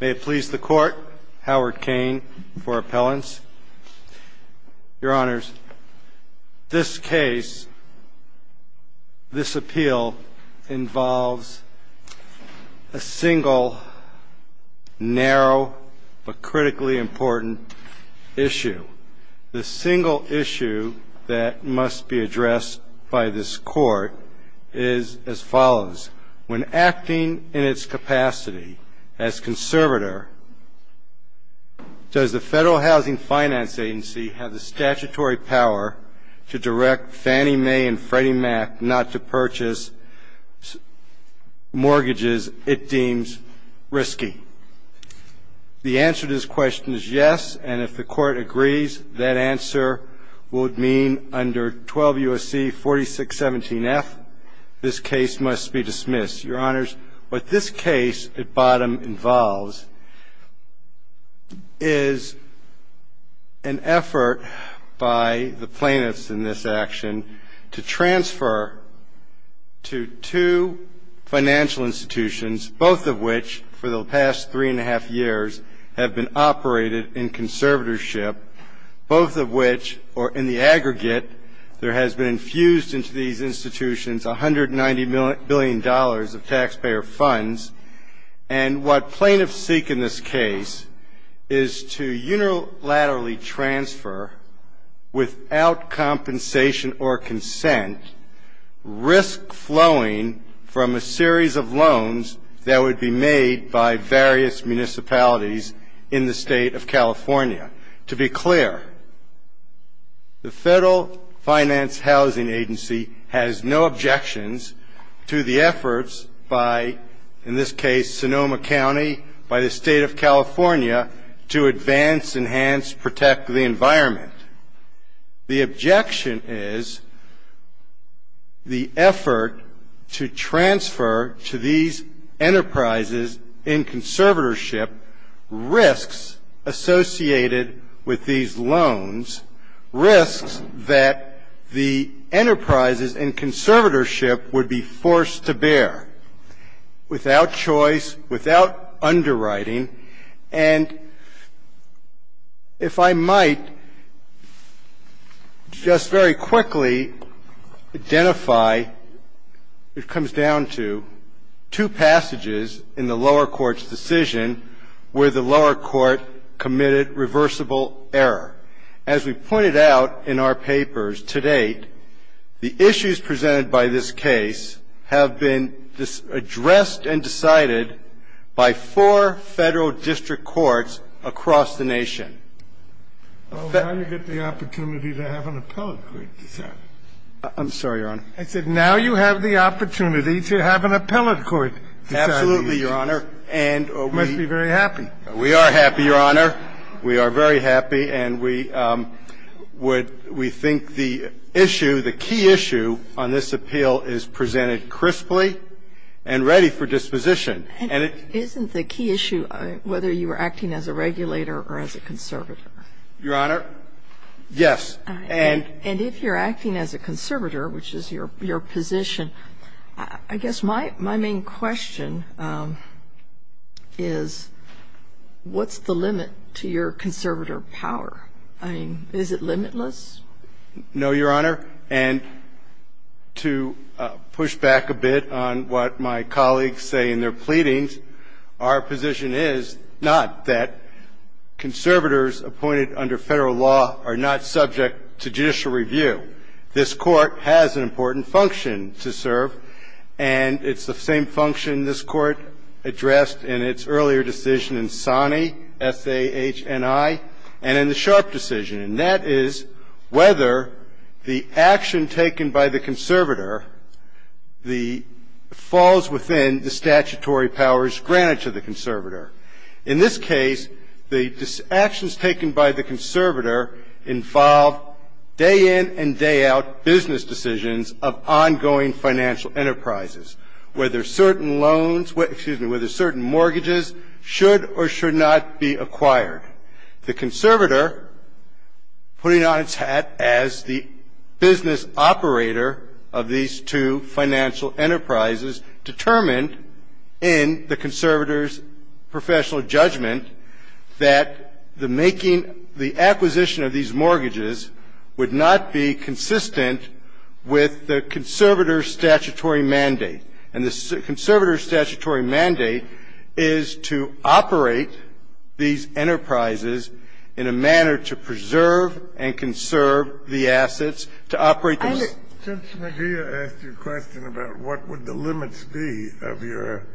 May it please the court, Howard Cain for appellants. Your honors, this case, this appeal involves a single, narrow, but critically important issue. The single issue that must be addressed by this court is as follows. When acting in its capacity as conservator, does the Federal Housing Finance Agency have the statutory power to direct Fannie Mae and Freddie Mac not to purchase mortgages it deems risky? The answer to this question is yes, and if the court agrees, that answer would mean under 12 U.S.C. 4617-F, this case must be dismissed. Your honors, what this case at bottom involves is an effort by the plaintiffs in this action to transfer to two financial institutions, both of which, for the past three years, have been subject to the Federal Housing Finance Agency. Both of which, or in the aggregate, there has been infused into these institutions $190 billion of taxpayer funds, and what plaintiffs seek in this case is to unilaterally transfer, without compensation or consent, risk-flowing from a series of loans that would be made by various institutions. To be clear, the Federal Finance Housing Agency has no objections to the efforts by, in this case, Sonoma County, by the State of California, to advance, enhance, protect the environment. The objection is the effort to transfer to these enterprises in conservatorship risks associated with these loans, risks that the enterprises in conservatorship would be forced to bear without choice, without underwriting, and if I might just very quickly identify, it comes down to, two passages in the lower court's decision where the lower court committed reversible error. As we've pointed out in our papers to date, the issues presented by this case have been addressed and decided by four Federal district courts across the nation. I'm sorry, Your Honor. I said now you have the opportunity to have an appellate court decide. Absolutely, Your Honor. We must be very happy. We are happy, Your Honor. We are very happy, and we would we think the issue, the key issue on this appeal is presented crisply and ready for disposition. Isn't the key issue whether you were acting as a regulator or as a conservator? Your Honor, yes. And if you're acting as a conservator, which is your position, I guess my main question is what's the limit to your conservator power? I mean, is it limitless? No, Your Honor, and to push back a bit on what my colleagues say in their pleadings, our position is not that conservators appointed under Federal law are not subject to judicial review. This Court has an important function to serve, and it's the same function this Court addressed in its earlier decision in Sani, S-A-H-N-I, and in the Sharp decision. And that is whether the action taken by the conservator falls within the statutory powers granted to the conservator. In this case, the actions taken by the conservator involve day in and day out business decisions of ongoing financial enterprises, whether certain loans, excuse me, whether certain mortgages should or should not be acquired. The conservator, putting on its hat as the business operator of these two financial enterprises, determined in the conservator's professional judgment that the making the acquisition of these mortgages would not be consistent with the conservator's statutory mandate. And the conservator's statutory mandate is to operate these enterprises in a manner to preserve and conserve the assets, to operate the assets. Kennedy, I want to ask you a question about what would the limits be of your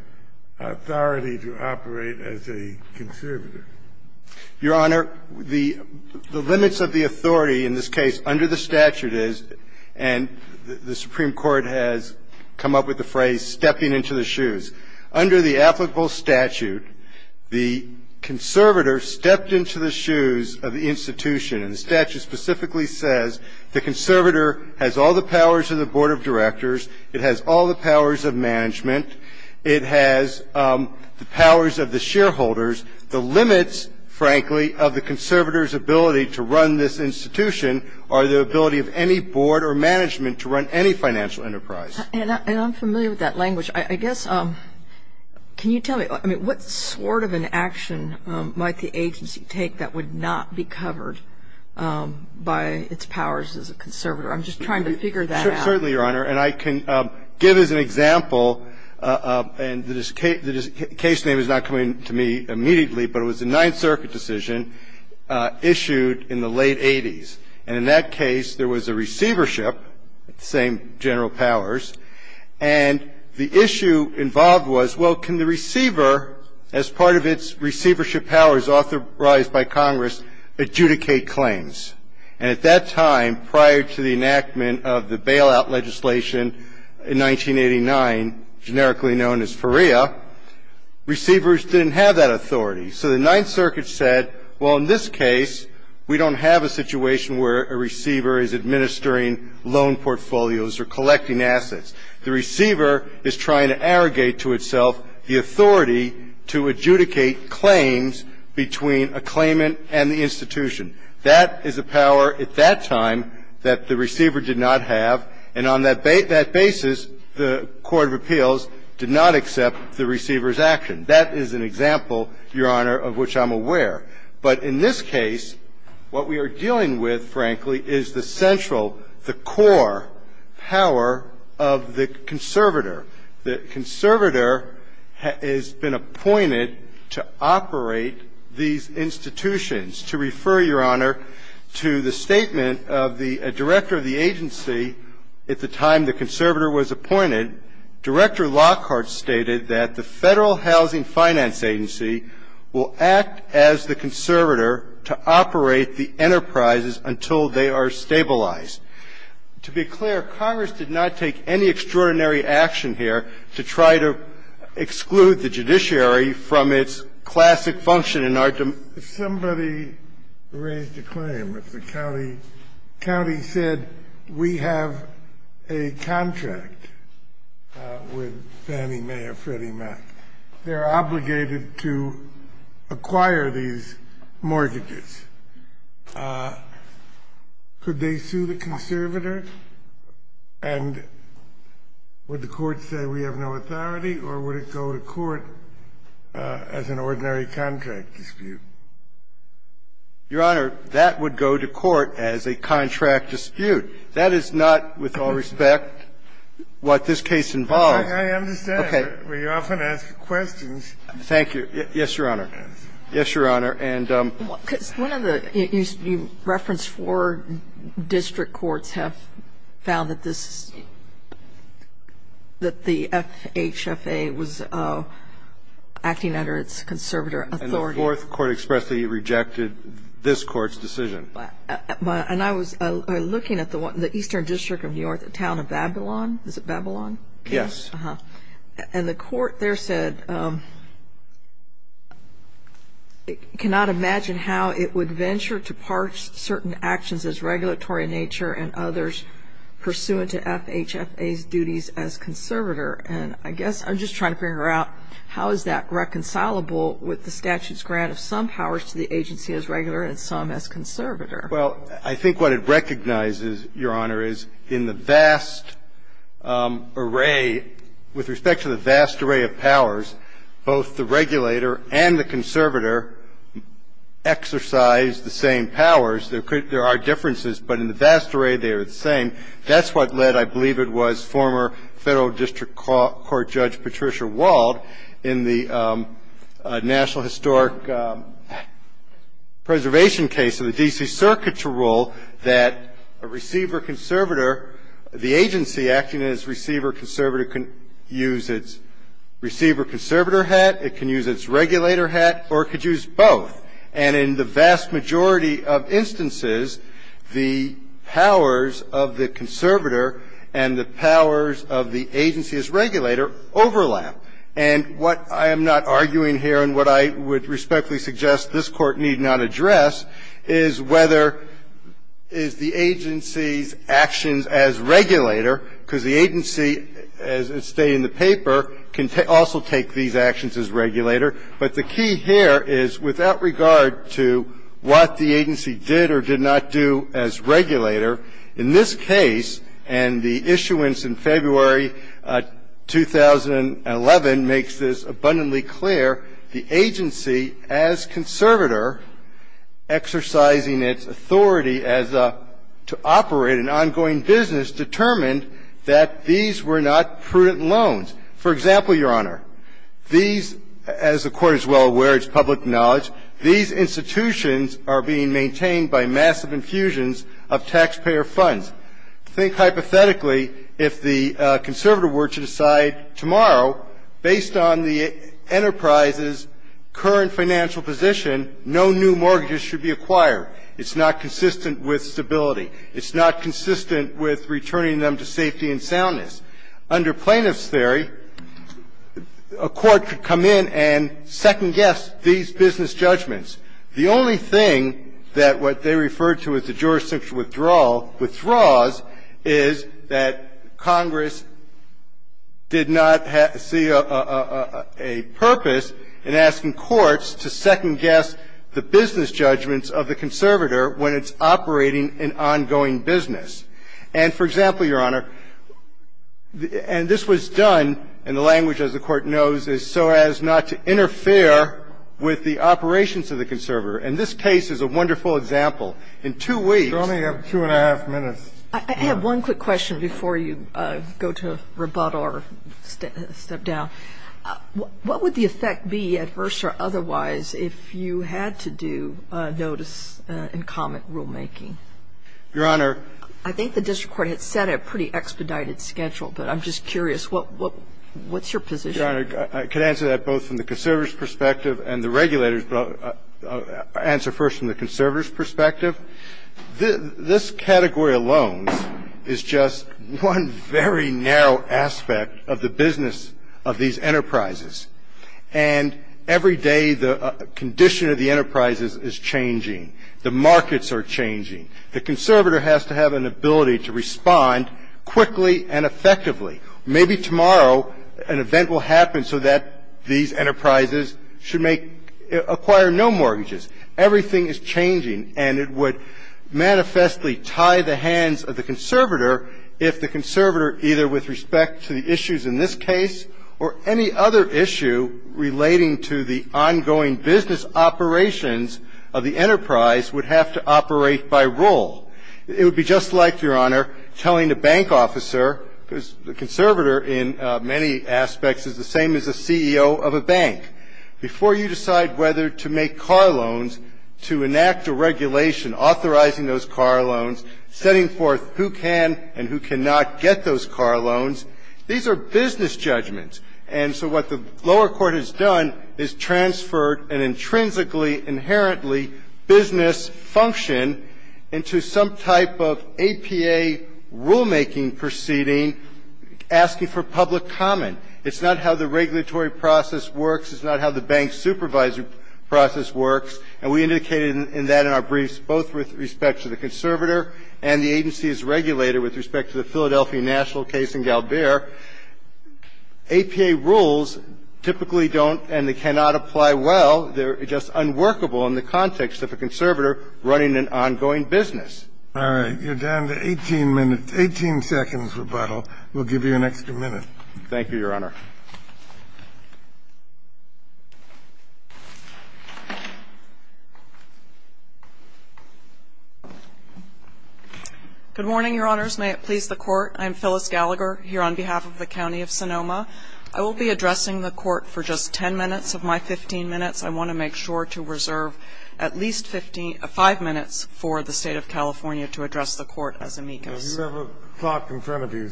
authority to operate as a conservator. Your Honor, the limits of the authority in this case under the statute is, and the Supreme Court has come up with the phrase, stepping into the shoes. Under the applicable statute, the conservator stepped into the shoes of the institution. And the statute specifically says the conservator has all the powers of the board of directors. It has all the powers of management. It has the powers of the shareholders. The limits, frankly, of the conservator's ability to run this institution are the ability of any board or management to run any financial enterprise. And I'm familiar with that language. I guess, can you tell me, I mean, what sort of an action might the agency take that would not be covered by its powers as a conservator? I'm just trying to figure that out. Certainly, Your Honor. And I can give as an example, and the case name is not coming to me immediately, but it was a Ninth Circuit decision issued in the late 80s. And in that case, there was a receivership, the same general powers, and the issue involved was, well, can the receiver, as part of its receivership powers authorized by Congress, adjudicate claims? And at that time, prior to the enactment of the bailout legislation in 1989, generically known as FREA, receivers didn't have that authority. So the Ninth Circuit said, well, in this case, we don't have a situation where a receiver is administering loan portfolios or collecting assets. The receiver is trying to arrogate to itself the authority to adjudicate claims between a claimant and the institution. That is a power at that time that the receiver did not have. And on that basis, the Court of Appeals did not accept the receiver's action. That is an example, Your Honor, of which I'm aware. But in this case, what we are dealing with, frankly, is the central, the core power of the conservator. The conservator has been appointed to operate these institutions. To refer, Your Honor, to the statement of the director of the agency at the time the conservator was appointed, Director Lockhart stated that the Federal Housing Finance Agency will act as the conservator to operate the enterprises until they are stabilized. To be clear, Congress did not take any extraordinary action here to try to exclude the judiciary from its classic function in our democracy. Somebody raised a claim that the county said we have a contract with Fannie Mae or Freddie Mac. They're obligated to acquire these mortgages. Could they sue the conservator? And would the Court say we have no authority, or would it go to court as an ordinary contract dispute? Your Honor, that would go to court as a contract dispute. That is not, with all respect, what this case involves. I understand. Okay. We often ask questions. Thank you. Yes, Your Honor. Yes, Your Honor. You referenced four district courts have found that this FHFA was acting under its conservator authority. And the fourth court expressly rejected this Court's decision. But I was looking at the Eastern District of New York, the town of Babylon. Is it Babylon? Yes. And the court there said it cannot imagine how it would venture to parch certain actions as regulatory in nature and others pursuant to FHFA's duties as conservator. And I guess I'm just trying to figure out how is that reconcilable with the statute's grant of some powers to the agency as regular and some as conservator? Well, I think what it recognizes, Your Honor, is in the vast array, with respect to the vast array of powers, both the regulator and the conservator exercise the same powers. There are differences, but in the vast array, they are the same. That's what led, I believe it was, former Federal District Court Judge Patricia Wald in the National Historic Preservation case of the D.C. Circuit to rule that a receiver-conservator, the agency acting as receiver-conservator can use its receiver-conservator hat, it can use its regulator hat, or it could use both. And in the vast majority of instances, the powers of the conservator and the powers of the agency as regulator overlap. And what I am not arguing here and what I would respectfully suggest this Court need not address is whether is the agency's actions as regulator, because the agency, as stated in the paper, can also take these actions as regulator. But the key here is, without regard to what the agency did or did not do as regulator, in this case, and the issuance in February 2011 makes this abundantly clear, the agency, as conservator, exercising its authority as a to operate an ongoing business, determined that these were not prudent loans. For example, Your Honor, these, as the Court is well aware, it's public knowledge, these institutions are being maintained by massive infusions of taxpayer funds. Think hypothetically, if the conservator were to decide tomorrow, based on the enterprise's current financial position, no new mortgages should be acquired. It's not consistent with stability. It's not consistent with returning them to safety and soundness. Under Plaintiff's theory, a court could come in and second-guess these business judgments. The only thing that what they referred to as the jurisdictional withdrawal withdraws is that Congress did not see a purpose in asking courts to second-guess the business judgments of the conservator when it's operating an ongoing business. And for example, Your Honor, and this was done in the language, as the Court knows, as so as not to interfere with the operations of the conservator. And this case is a wonderful example. In two weeks ---- Breyer, I only have two and a half minutes. I have one quick question before you go to rebuttal or step down. What would the effect be, adverse or otherwise, if you had to do notice and comment rulemaking? Your Honor ---- I think the district court had set a pretty expedited schedule, but I'm just curious. What's your position? Your Honor, I can answer that both from the conservator's perspective and the regulator's perspective. I'll answer first from the conservator's perspective. This category alone is just one very narrow aspect of the business of these enterprises. And every day the condition of the enterprises is changing. The markets are changing. The conservator has to have an ability to respond quickly and effectively. Maybe tomorrow an event will happen so that these enterprises should make ---- acquire no mortgages. Everything is changing. And it would manifestly tie the hands of the conservator if the conservator, either with respect to the issues in this case or any other issue relating to the ongoing business operations of the enterprise, would have to operate by rule. It would be just like, Your Honor, telling the bank officer, because the conservator in many aspects is the same as the CEO of a bank, before you decide whether to make car loans, to enact a regulation authorizing those car loans, setting forth who can and who cannot get those car loans. These are business judgments. And so what the lower court has done is transferred an intrinsically, inherently business function into some type of APA rulemaking proceeding, asking for public comment. It's not how the regulatory process works. It's not how the bank supervisory process works. And we indicated in that in our briefs, both with respect to the conservator and the agency's regulator with respect to the Philadelphia national case and Galbaer. APA rules typically don't and they cannot apply well. They're just unworkable in the context of a conservator running an ongoing business. All right. You're down to 18 minutes, 18 seconds, rebuttal. We'll give you an extra minute. Thank you, Your Honor. Good morning, Your Honors. May it please the Court. I'm Phyllis Gallagher here on behalf of the County of Sonoma. I will be addressing the Court for just 10 minutes of my 15 minutes. I want to make sure to reserve at least 5 minutes for the State of California to address the Court as amicus. If you have a clock in front of you,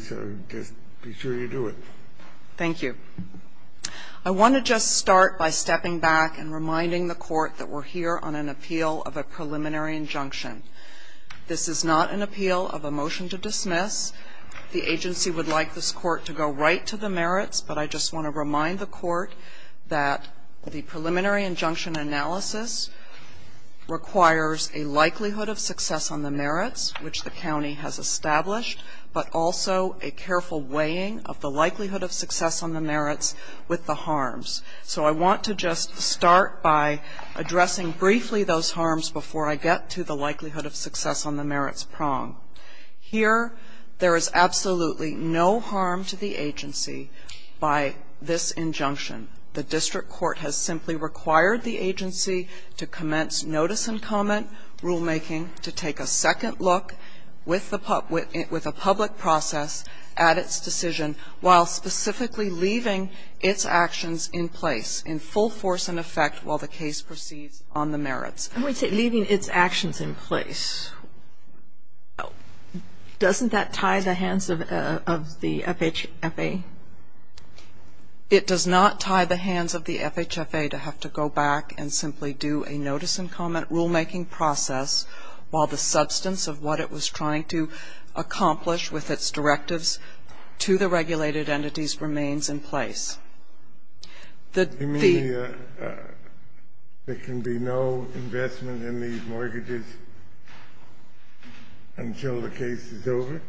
just be sure you do it. Thank you. I want to just start by stepping back and reminding the Court that we're here on an appeal of a preliminary injunction. This is not an appeal of a motion to dismiss. The agency would like this Court to go right to the merits, but I just want to remind the Court that the preliminary injunction analysis requires a likelihood of success on the merits, which the county has established, but also a careful weighing of the likelihood of success on the merits with the harms. So I want to just start by addressing briefly those harms before I get to the likelihood of success on the merits prong. Here, there is absolutely no harm to the agency by this injunction. The district court has simply required the agency to commence notice and comment rulemaking to take a second look with a public process at its decision, while specifically leaving its actions in place in full force and effect while the case proceeds on the merits. I would say leaving its actions in place. Doesn't that tie the hands of the FHFA? It does not tie the hands of the FHFA to have to go back and simply do a notice and comment rulemaking process while the substance of what it was trying to accomplish with its directives to the regulated entities remains in place. You mean there can be no investment in these mortgages until the case is over?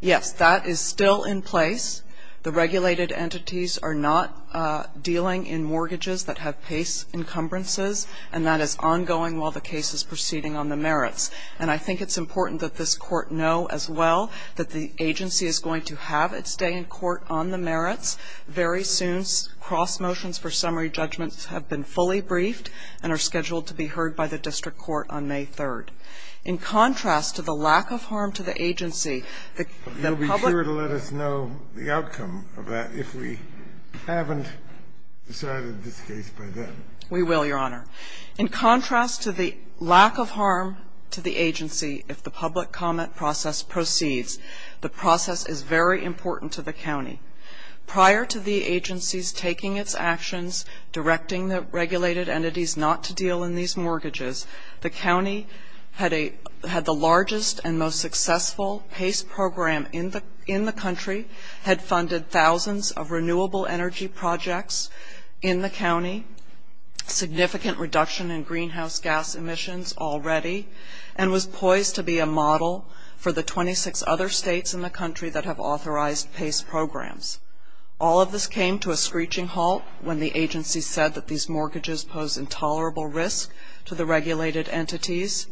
Yes, that is still in place. The regulated entities are not dealing in mortgages that have PACE encumbrances, and that is ongoing while the case is proceeding on the merits. And I think it's important that this Court know as well that the agency is going to have its day in court on the merits very soon. Cross motions for summary judgments have been fully briefed and are scheduled to be heard by the district court on May 3rd. In contrast to the lack of harm to the agency, the public You'll be sure to let us know the outcome of that if we haven't decided this case by then. We will, Your Honor. In contrast to the lack of harm to the agency, if the public comment process proceeds, the process is very important to the county. Prior to the agency's taking its actions, directing the regulated entities not to deal in these mortgages, the county had the largest and most successful PACE program in the country, had funded thousands of renewable energy projects in the county, significant reduction in greenhouse gas emissions already, and was poised to be a model for the 26 other states in the country that have authorized PACE programs. All of this came to a screeching halt when the agency said that these mortgages pose intolerable risk to the regulated entities.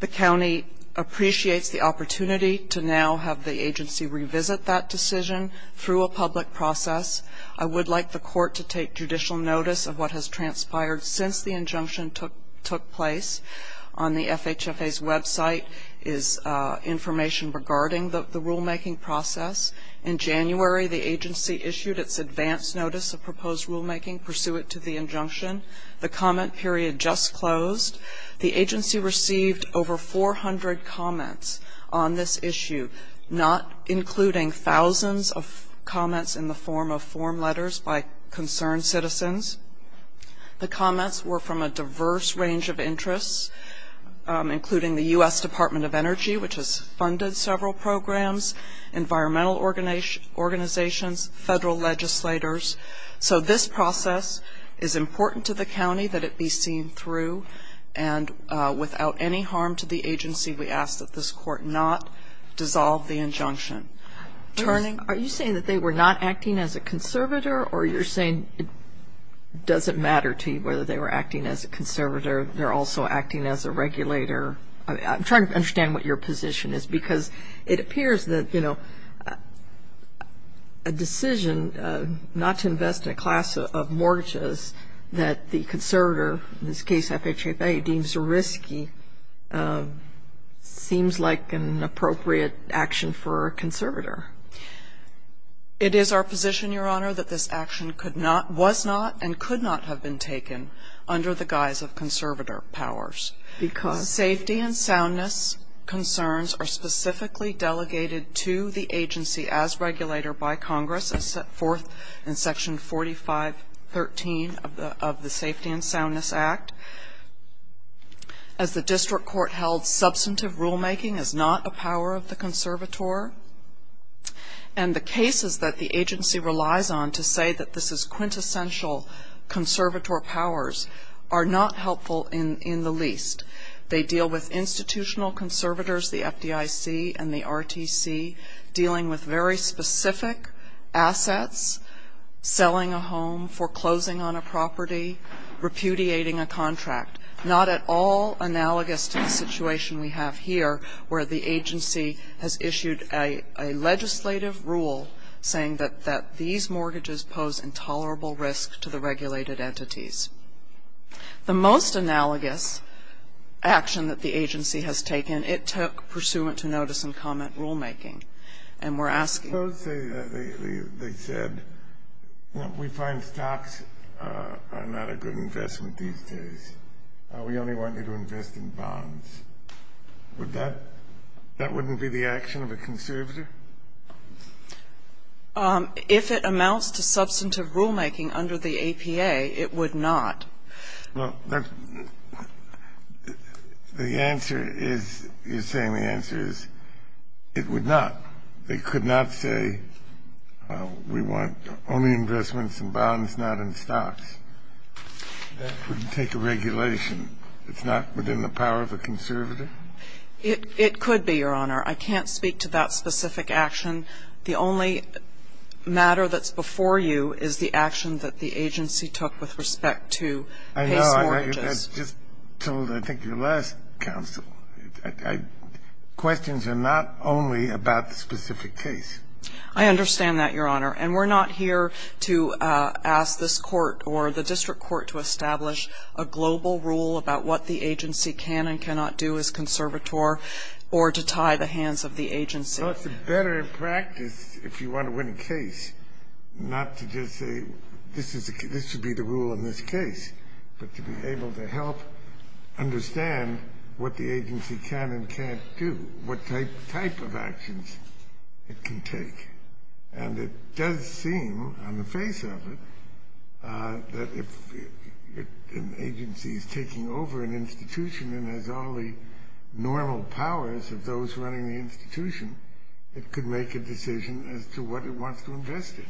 The county appreciates the opportunity to now have the agency revisit that decision through a public process. I would like the court to take judicial notice of what has transpired since the injunction took place on the FHFA's website is information regarding the rulemaking process. In January, the agency issued its advance notice of proposed rulemaking pursuant to the injunction. The comment period just closed. The agency received over 400 comments on this issue, not including thousands of comments in the form of form letters by concerned citizens. The comments were from a diverse range of interests, including the U.S. Department of Energy, which has funded several programs, environmental organizations, federal legislators. So this process is important to the county that it be seen through. And without any harm to the agency, we ask that this court not dissolve the injunction. Are you saying that they were not acting as a conservator, or you're saying it doesn't matter to you whether they were acting as a conservator, they're also acting as a regulator? I'm trying to understand what your position is, because it appears that, you know, a decision not to invest in a class of mortgages that the conservator, in this case FHFA, deems risky seems like an appropriate action for a conservator. It is our position, Your Honor, that this action could not, was not, and could not have been taken under the guise of conservator powers. Because? Safety and soundness concerns are specifically delegated to the agency as regulator by Congress, as set forth in section 4513 of the Safety and Soundness Act. As the district court held, substantive rulemaking is not a power of the conservator. And the cases that the agency relies on to say that this is quintessential conservator powers are not helpful in the least. They deal with institutional conservators, the FDIC and the RTC, dealing with very specific assets, selling a home, foreclosing on a property, repudiating a contract, not at all analogous to the situation we have here where the agency has issued a legislative rule saying that these mortgages pose intolerable risk to the regulated entities. The most analogous action that the agency has taken, and it took pursuant to notice and comment rulemaking. And we're asking. Suppose they said, you know, we find stocks are not a good investment these days. We only want you to invest in bonds. Would that, that wouldn't be the action of a conservator? If it amounts to substantive rulemaking under the APA, it would not. Well, that's, the answer is, you're saying the answer is it would not. They could not say we want only investments in bonds, not in stocks. That wouldn't take a regulation. It's not within the power of a conservator? It, it could be, Your Honor. I can't speak to that specific action. The only matter that's before you is the action that the agency took with respect to case mortgages. I know. I just told, I think, your last counsel, I, I, questions are not only about the specific case. I understand that, Your Honor. And we're not here to ask this Court or the district court to establish a global rule about what the agency can and cannot do as conservator or to tie the hands of the agency. So it's a better practice, if you want to win a case, not to just say, this is, this would be the rule in this case, but to be able to help understand what the agency can and can't do, what type, type of actions it can take. And it does seem, on the face of it, that if an agency is taking over an institution and has all the normal powers of those running the institution, it could make a decision as to what it wants to invest in.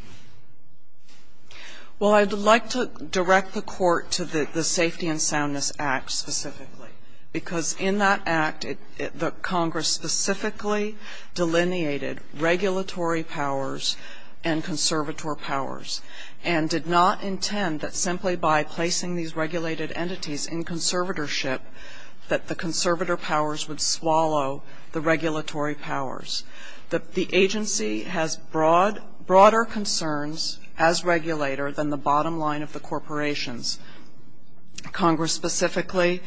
Well, I'd like to direct the Court to the, the Safety and Soundness Act specifically. Because in that act, it, it, the Congress specifically delineated regulatory powers and conservator powers, and did not intend that simply by placing these that the conservator powers would swallow the regulatory powers. The, the agency has broad, broader concerns as regulator than the bottom line of the corporations. Congress specifically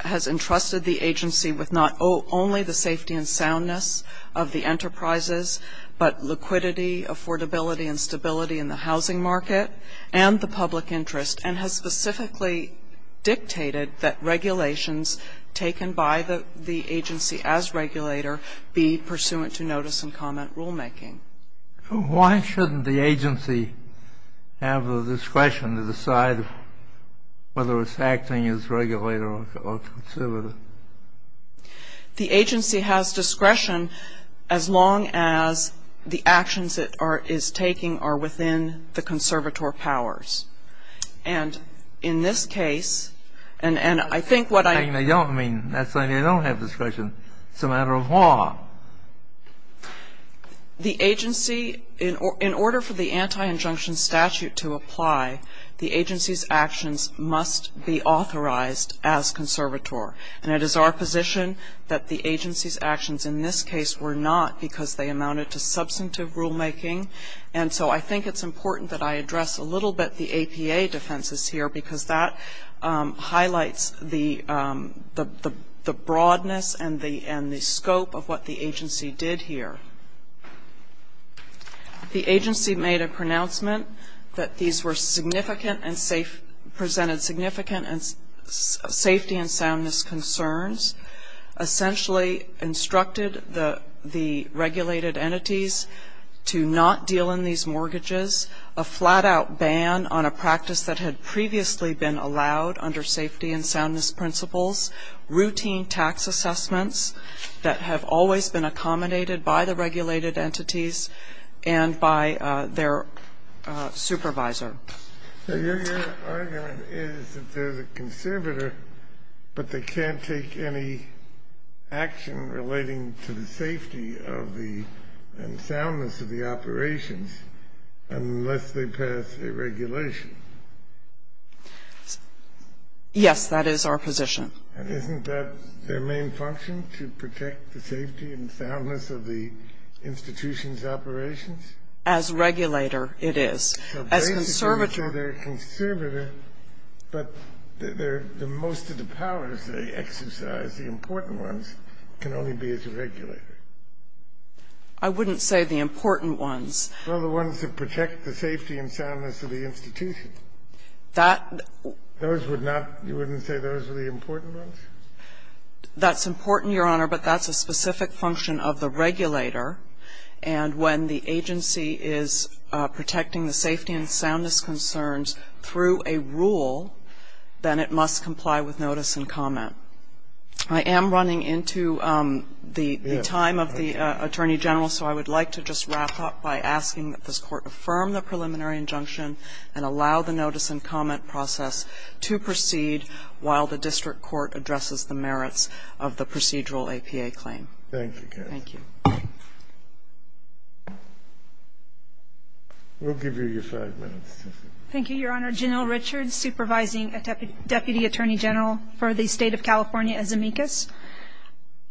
has entrusted the agency with not only the safety and soundness of the enterprises, but liquidity, affordability, and stability in the housing market, and the public interest, and has specifically dictated that regulations taken by the, the agency as regulator be pursuant to notice and comment rulemaking. Why shouldn't the agency have the discretion to decide whether it's acting as regulator or, or conservator? The agency has discretion as long as the actions it are, is taking are within the conservator powers. And in this case, and, and I think what I. I don't mean, that's why you don't have discretion. It's a matter of law. The agency, in, in order for the anti-injunction statute to apply, the agency's actions must be authorized as conservator. And it is our position that the agency's actions in this case were not because they amounted to substantive rulemaking. And so I think it's important that I address a little bit the APA defenses here, because that highlights the, the, the broadness and the, and the scope of what the agency did here. The agency made a pronouncement that these were significant and safe, presented significant and safety and soundness concerns. Essentially instructed the, the regulated entities to not deal in these mortgages. A flat out ban on a practice that had previously been allowed under safety and soundness principles. Routine tax assessments that have always been accommodated by the regulated entities and by their supervisor. Your argument is that there's a conservator, but they can't take any action relating to the safety of the, and soundness of the operations, unless they pass a regulation. Yes, that is our position. And isn't that their main function, to protect the safety and soundness of the institution's operations? As regulator, it is. As conservator. So basically, they're a conservator, but they're, most of the powers they exercise, the important ones, can only be as a regulator. I wouldn't say the important ones. Well, the ones that protect the safety and soundness of the institution. That. Those would not, you wouldn't say those are the important ones? That's important, Your Honor, but that's a specific function of the regulator. And when the agency is protecting the safety and soundness concerns through a rule, then it must comply with notice and comment. I am running into the time of the Attorney General, so I would like to just wrap up by asking that this court affirm the preliminary injunction and allow the notice and comment process to proceed while the district court addresses the merits of the procedural APA claim. Thank you, Kathy. Thank you. We'll give you your five minutes. Thank you, Your Honor. Janelle Richards, Supervising Deputy Attorney General for the state of California, as amicus.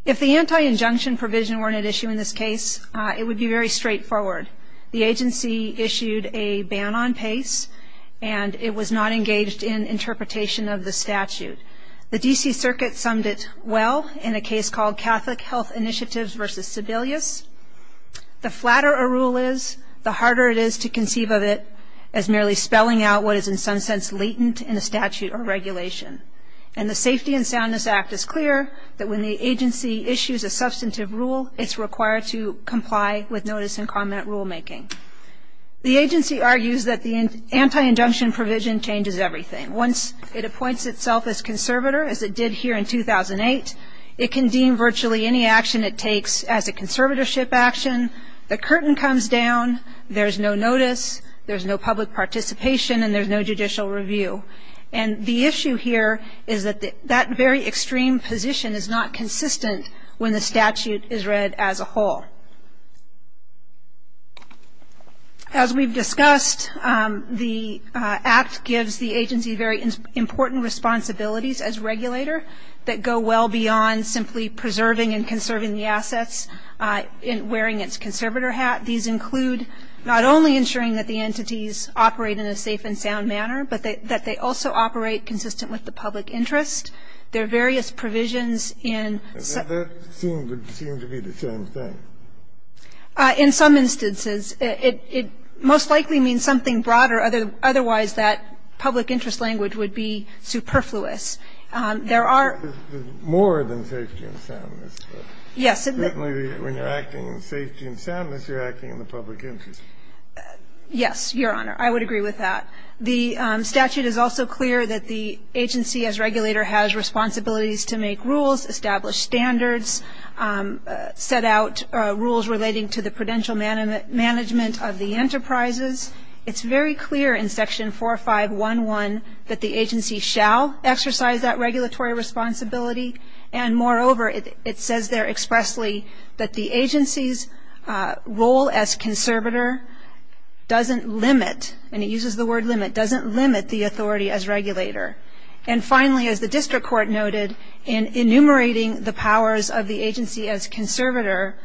If the anti-injunction provision weren't at issue in this case, it would be very straightforward. The agency issued a ban on PACE, and it was not engaged in interpretation of the statute. The DC Circuit summed it well in a case called Catholic Health Initiatives versus Sebelius, the flatter a rule is, the harder it is to conceive of it as merely spelling out what is in some sense latent in a statute or regulation. And the Safety and Soundness Act is clear that when the agency issues a substantive rule, it's required to comply with notice and comment rulemaking. The agency argues that the anti-injunction provision changes everything. Once it appoints itself as conservator, as it did here in 2008, it can deem virtually any action it takes as a conservatorship action. The curtain comes down, there's no notice, there's no public participation, and there's no judicial review. And the issue here is that that very extreme position is not consistent when the statute is read as a whole. As we've discussed, the act gives the agency very many powers beyond simply preserving and conserving the assets, wearing its conservator hat. These include not only ensuring that the entities operate in a safe and sound manner, but that they also operate consistent with the public interest. There are various provisions in- And that would seem to be the same thing. In some instances, it most likely means something broader, otherwise that public interest language would be superfluous. There are- More than safety and soundness. Yes. Certainly when you're acting in safety and soundness, you're acting in the public interest. Yes, Your Honor. I would agree with that. The statute is also clear that the agency as regulator has responsibilities to make rules, establish standards, set out rules relating to the prudential management of the enterprises. It's very clear in section 4511 that the agency shall exercise that regulatory responsibility. And moreover, it says there expressly that the agency's role as conservator doesn't limit, and it uses the word limit, doesn't limit the authority as regulator. And finally, as the district court noted, in enumerating the powers of the agency as conservator,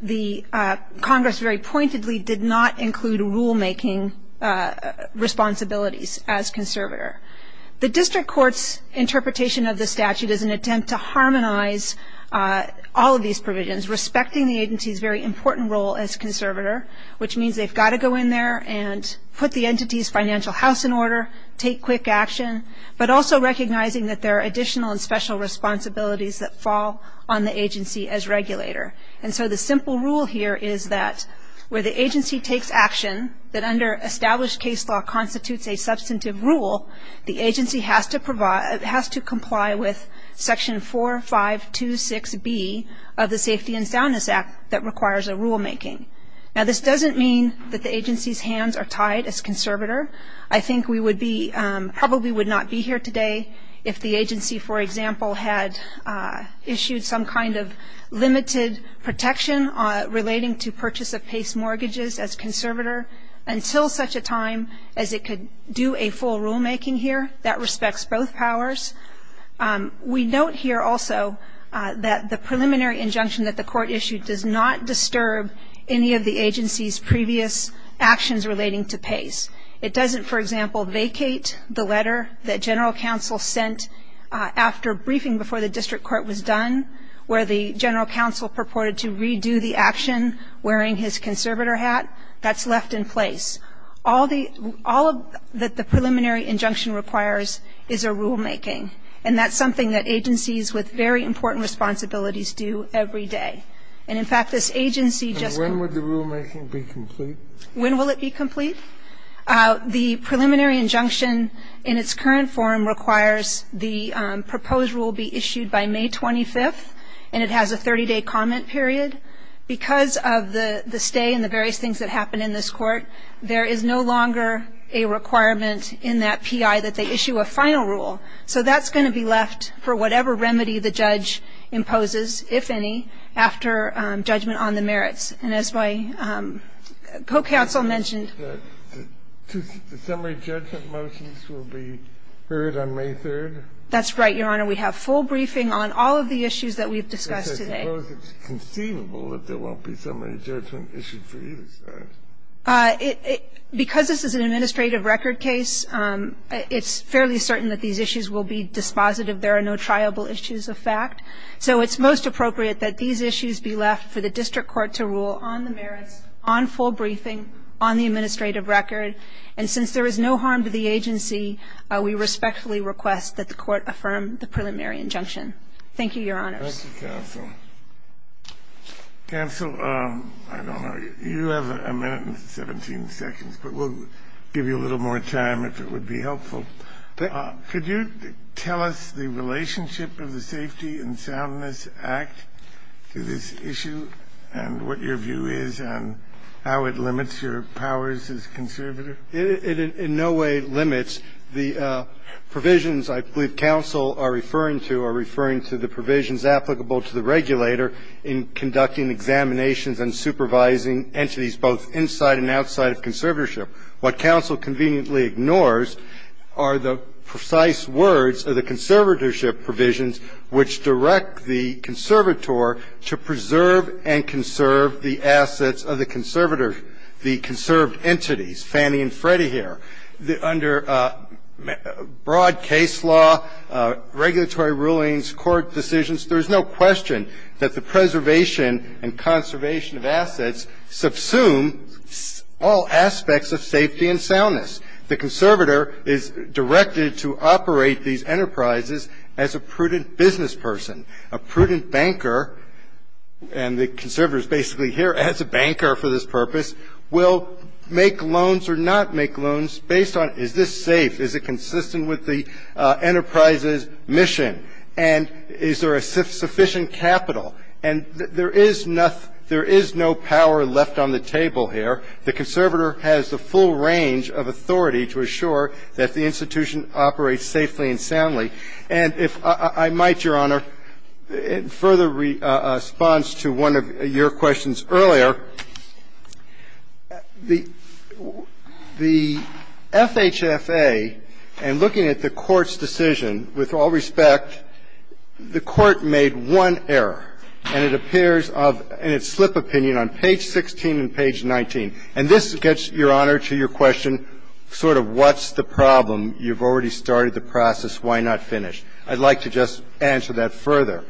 the Congress very pointedly did not include rulemaking responsibilities as conservator. The district court's interpretation of the statute is an attempt to harmonize all of these provisions, respecting the agency's very important role as conservator, which means they've got to go in there and put the entity's financial house in order, take quick action, but also recognizing that there are additional and special responsibilities that fall on the agency as regulator. And so the simple rule here is that where the agency takes action, that under established case law constitutes a substantive rule, the agency has to comply with section 4526B of the Safety and Soundness Act that requires a rulemaking. Now, this doesn't mean that the agency's hands are tied as conservator. I think we would be, probably would not be here today if the agency, for example, had issued some kind of limited protection relating to purchase of PACE mortgages as conservator until such a time as it could do a full rulemaking here. That respects both powers. We note here also that the preliminary injunction that the court issued does not disturb any of the agency's previous actions relating to PACE. It doesn't, for example, vacate the letter that general counsel sent after briefing before the district court was done, where the general counsel purported to redo the action wearing his conservator hat. That's left in place. All that the preliminary injunction requires is a rulemaking. And that's something that agencies with very important responsibilities do every day. And in fact, this agency just- And when would the rulemaking be complete? When will it be complete? The preliminary injunction in its current form requires the proposed rule be issued by May 25th, and it has a 30-day comment period. Because of the stay and the various things that happen in this court, there is no longer a requirement in that PI that they issue a final rule. So that's going to be left for whatever remedy the judge imposes, if any, after judgment on the merits. And as my co-counsel mentioned- The summary judgment motions will be heard on May 3rd? That's right, Your Honor. We have full briefing on all of the issues that we've discussed today. I suppose it's conceivable that there won't be summary judgment issued for either side. Because this is an administrative record case, it's fairly certain that these issues will be dispositive. There are no triable issues of fact. So it's most appropriate that these issues be left for the district court to rule on the merits, on full briefing, on the administrative record. And since there is no harm to the agency, we respectfully request that the court affirm the preliminary injunction. Thank you, Your Honors. Thank you, Counsel. Counsel, I don't know, you have a minute and 17 seconds, but we'll give you a little more time if it would be helpful. Could you tell us the relationship of the Safety and Soundness Act to this issue? And what your view is on how it limits your powers as conservator? It in no way limits the provisions I believe counsel are referring to, are referring to the provisions applicable to the regulator in conducting examinations and supervising entities both inside and outside of conservatorship. What counsel conveniently ignores are the precise words of the conservatorship provisions which direct the conservator to preserve and conserve the assets of the conservator, the conserved entities, Fannie and Freddie here. Under broad case law, regulatory rulings, court decisions, there's no question that the preservation and safety and soundness, the conservator is directed to operate these enterprises as a prudent business person, a prudent banker, and the conservator's basically here as a banker for this purpose, will make loans or not make loans based on is this safe, is it consistent with the enterprise's mission, and is there a sufficient capital, and there is no power left on the table here. The conservator has the full range of authority to assure that the institution operates safely and soundly. And if I might, Your Honor, in further response to one of your questions earlier, the FHFA, in looking at the Court's decision, with all respect, the Court made one error, and it appears of its slip opinion on page 16 and page 19. And this gets, Your Honor, to your question, sort of what's the problem? You've already started the process. Why not finish? I'd like to just answer that further.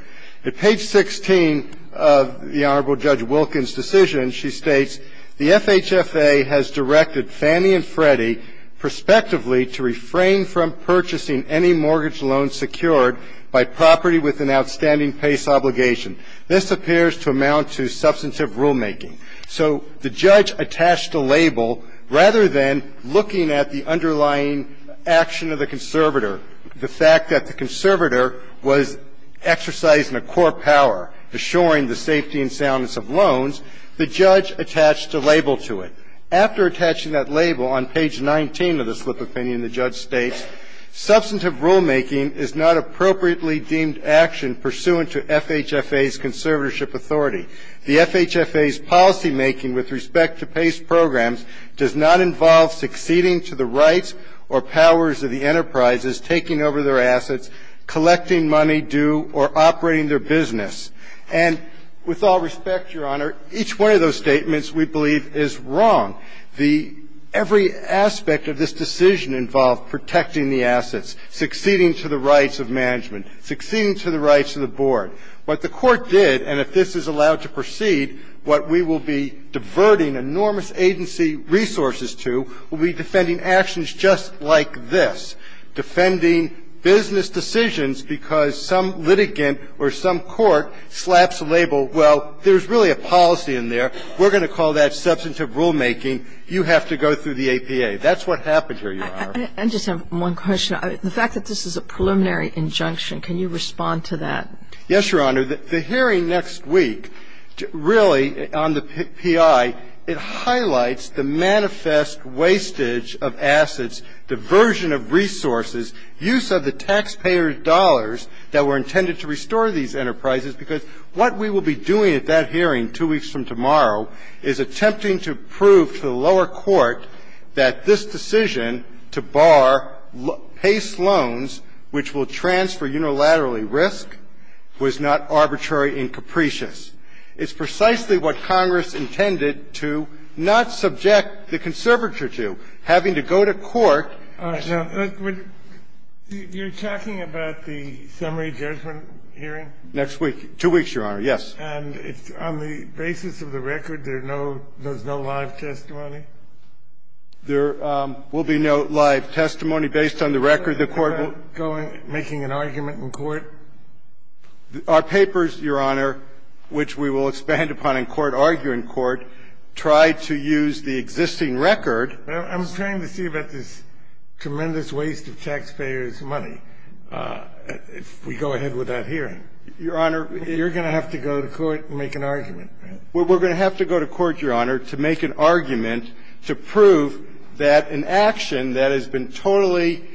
At page 16 of the Honorable Judge Wilkins' decision, she states, the FHFA has directed Fannie and Freddie prospectively to refrain from purchasing any mortgage loan secured by property with an outstanding PACE obligation. This appears to amount to substantive rulemaking. So the judge attached a label. Rather than looking at the underlying action of the conservator, the fact that the conservator was exercising a core power assuring the safety and soundness of loans, the judge attached a label to it. After attaching that label on page 19 of the slip opinion, the judge states, substantive rulemaking is not appropriately deemed action pursuant to FHFA's conservatorship authority. The FHFA's policymaking with respect to PACE programs does not involve succeeding to the rights or powers of the enterprises taking over their assets, collecting money due, or operating their business. And with all respect, Your Honor, each one of those statements we believe is wrong. The – every aspect of this decision involved protecting the assets, succeeding to the rights of management, succeeding to the rights of the board. What the court did, and if this is allowed to proceed, what we will be diverting enormous agency resources to will be defending actions just like this, defending business decisions because some litigant or some court slaps a label, well, there's really a policy in there, we're going to call that substantive rulemaking, you have to go through the APA. That's what happened here, Your Honor. And I just have one question. The fact that this is a preliminary injunction, can you respond to that? Yes, Your Honor. The hearing next week, really, on the PI, it highlights the manifest wastage of assets, diversion of resources, use of the taxpayer dollars that were intended to restore these enterprises, because what we will be doing at that hearing 2 weeks from tomorrow is attempting to prove to the lower court that this decision to bar PACE loans, which will transfer unilaterally risk, was not arbitrary and capricious. It's precisely what Congress intended to not subject the conservator to, having to go to court. You're talking about the summary judgment hearing? Next week, 2 weeks, Your Honor, yes. And on the basis of the record, there's no live testimony? There will be no live testimony based on the record. The court will go in making an argument in court? Our papers, Your Honor, which we will expand upon in court, argue in court, try to use the existing record. I'm trying to see about this tremendous waste of taxpayers' money if we go ahead with that hearing. Your Honor, you're going to have to go to court and make an argument. We're going to have to go to court, Your Honor, to make an argument to prove that an action that has been totally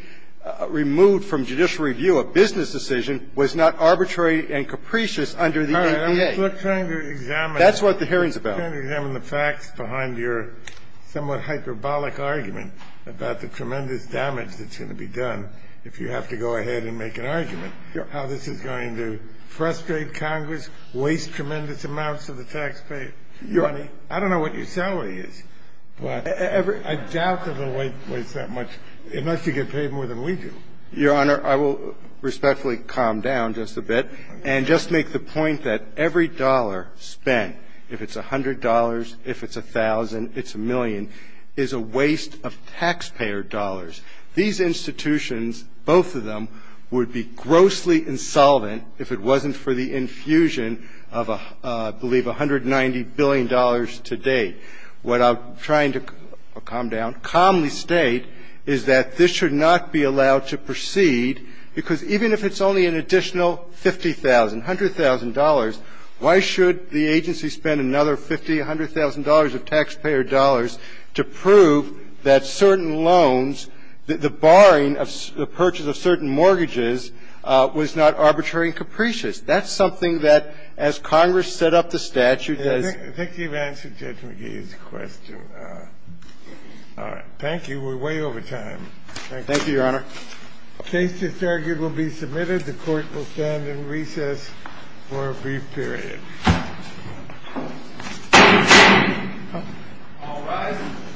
removed from judicial review, a business decision, was not arbitrary and capricious under the APA. We're trying to examine the facts behind your somewhat hyperbolic argument about the tremendous damage that's going to be done if you have to go ahead and make an argument, how this is going to frustrate Congress, waste tremendous amounts of the taxpayer's money. I don't know what your salary is, but I doubt that it'll waste that much, unless you get paid more than we do. Your Honor, I will respectfully calm down just a bit and just make the point that every dollar spent, if it's $100, if it's $1,000, if it's $1 million, is a waste of taxpayer dollars. These institutions, both of them, would be grossly insolvent if it wasn't for the infusion of, I believe, $190 billion to date. What I'm trying to calm down, calmly state, is that this should not be allowed to proceed, because even if it's only an additional $50,000, $100,000, why should the agency spend another $50,000, $100,000 of taxpayer dollars to prove that certain loans, the barring of the purchase of certain mortgages, was not arbitrary and capricious? That's something that, as Congress set up the statute, does – I think you've answered Judge McGee's question. All right. Thank you. We're way over time. Thank you. Thank you, Your Honor. The case is argued will be submitted. The Court will stand in recess for a brief period. All rise.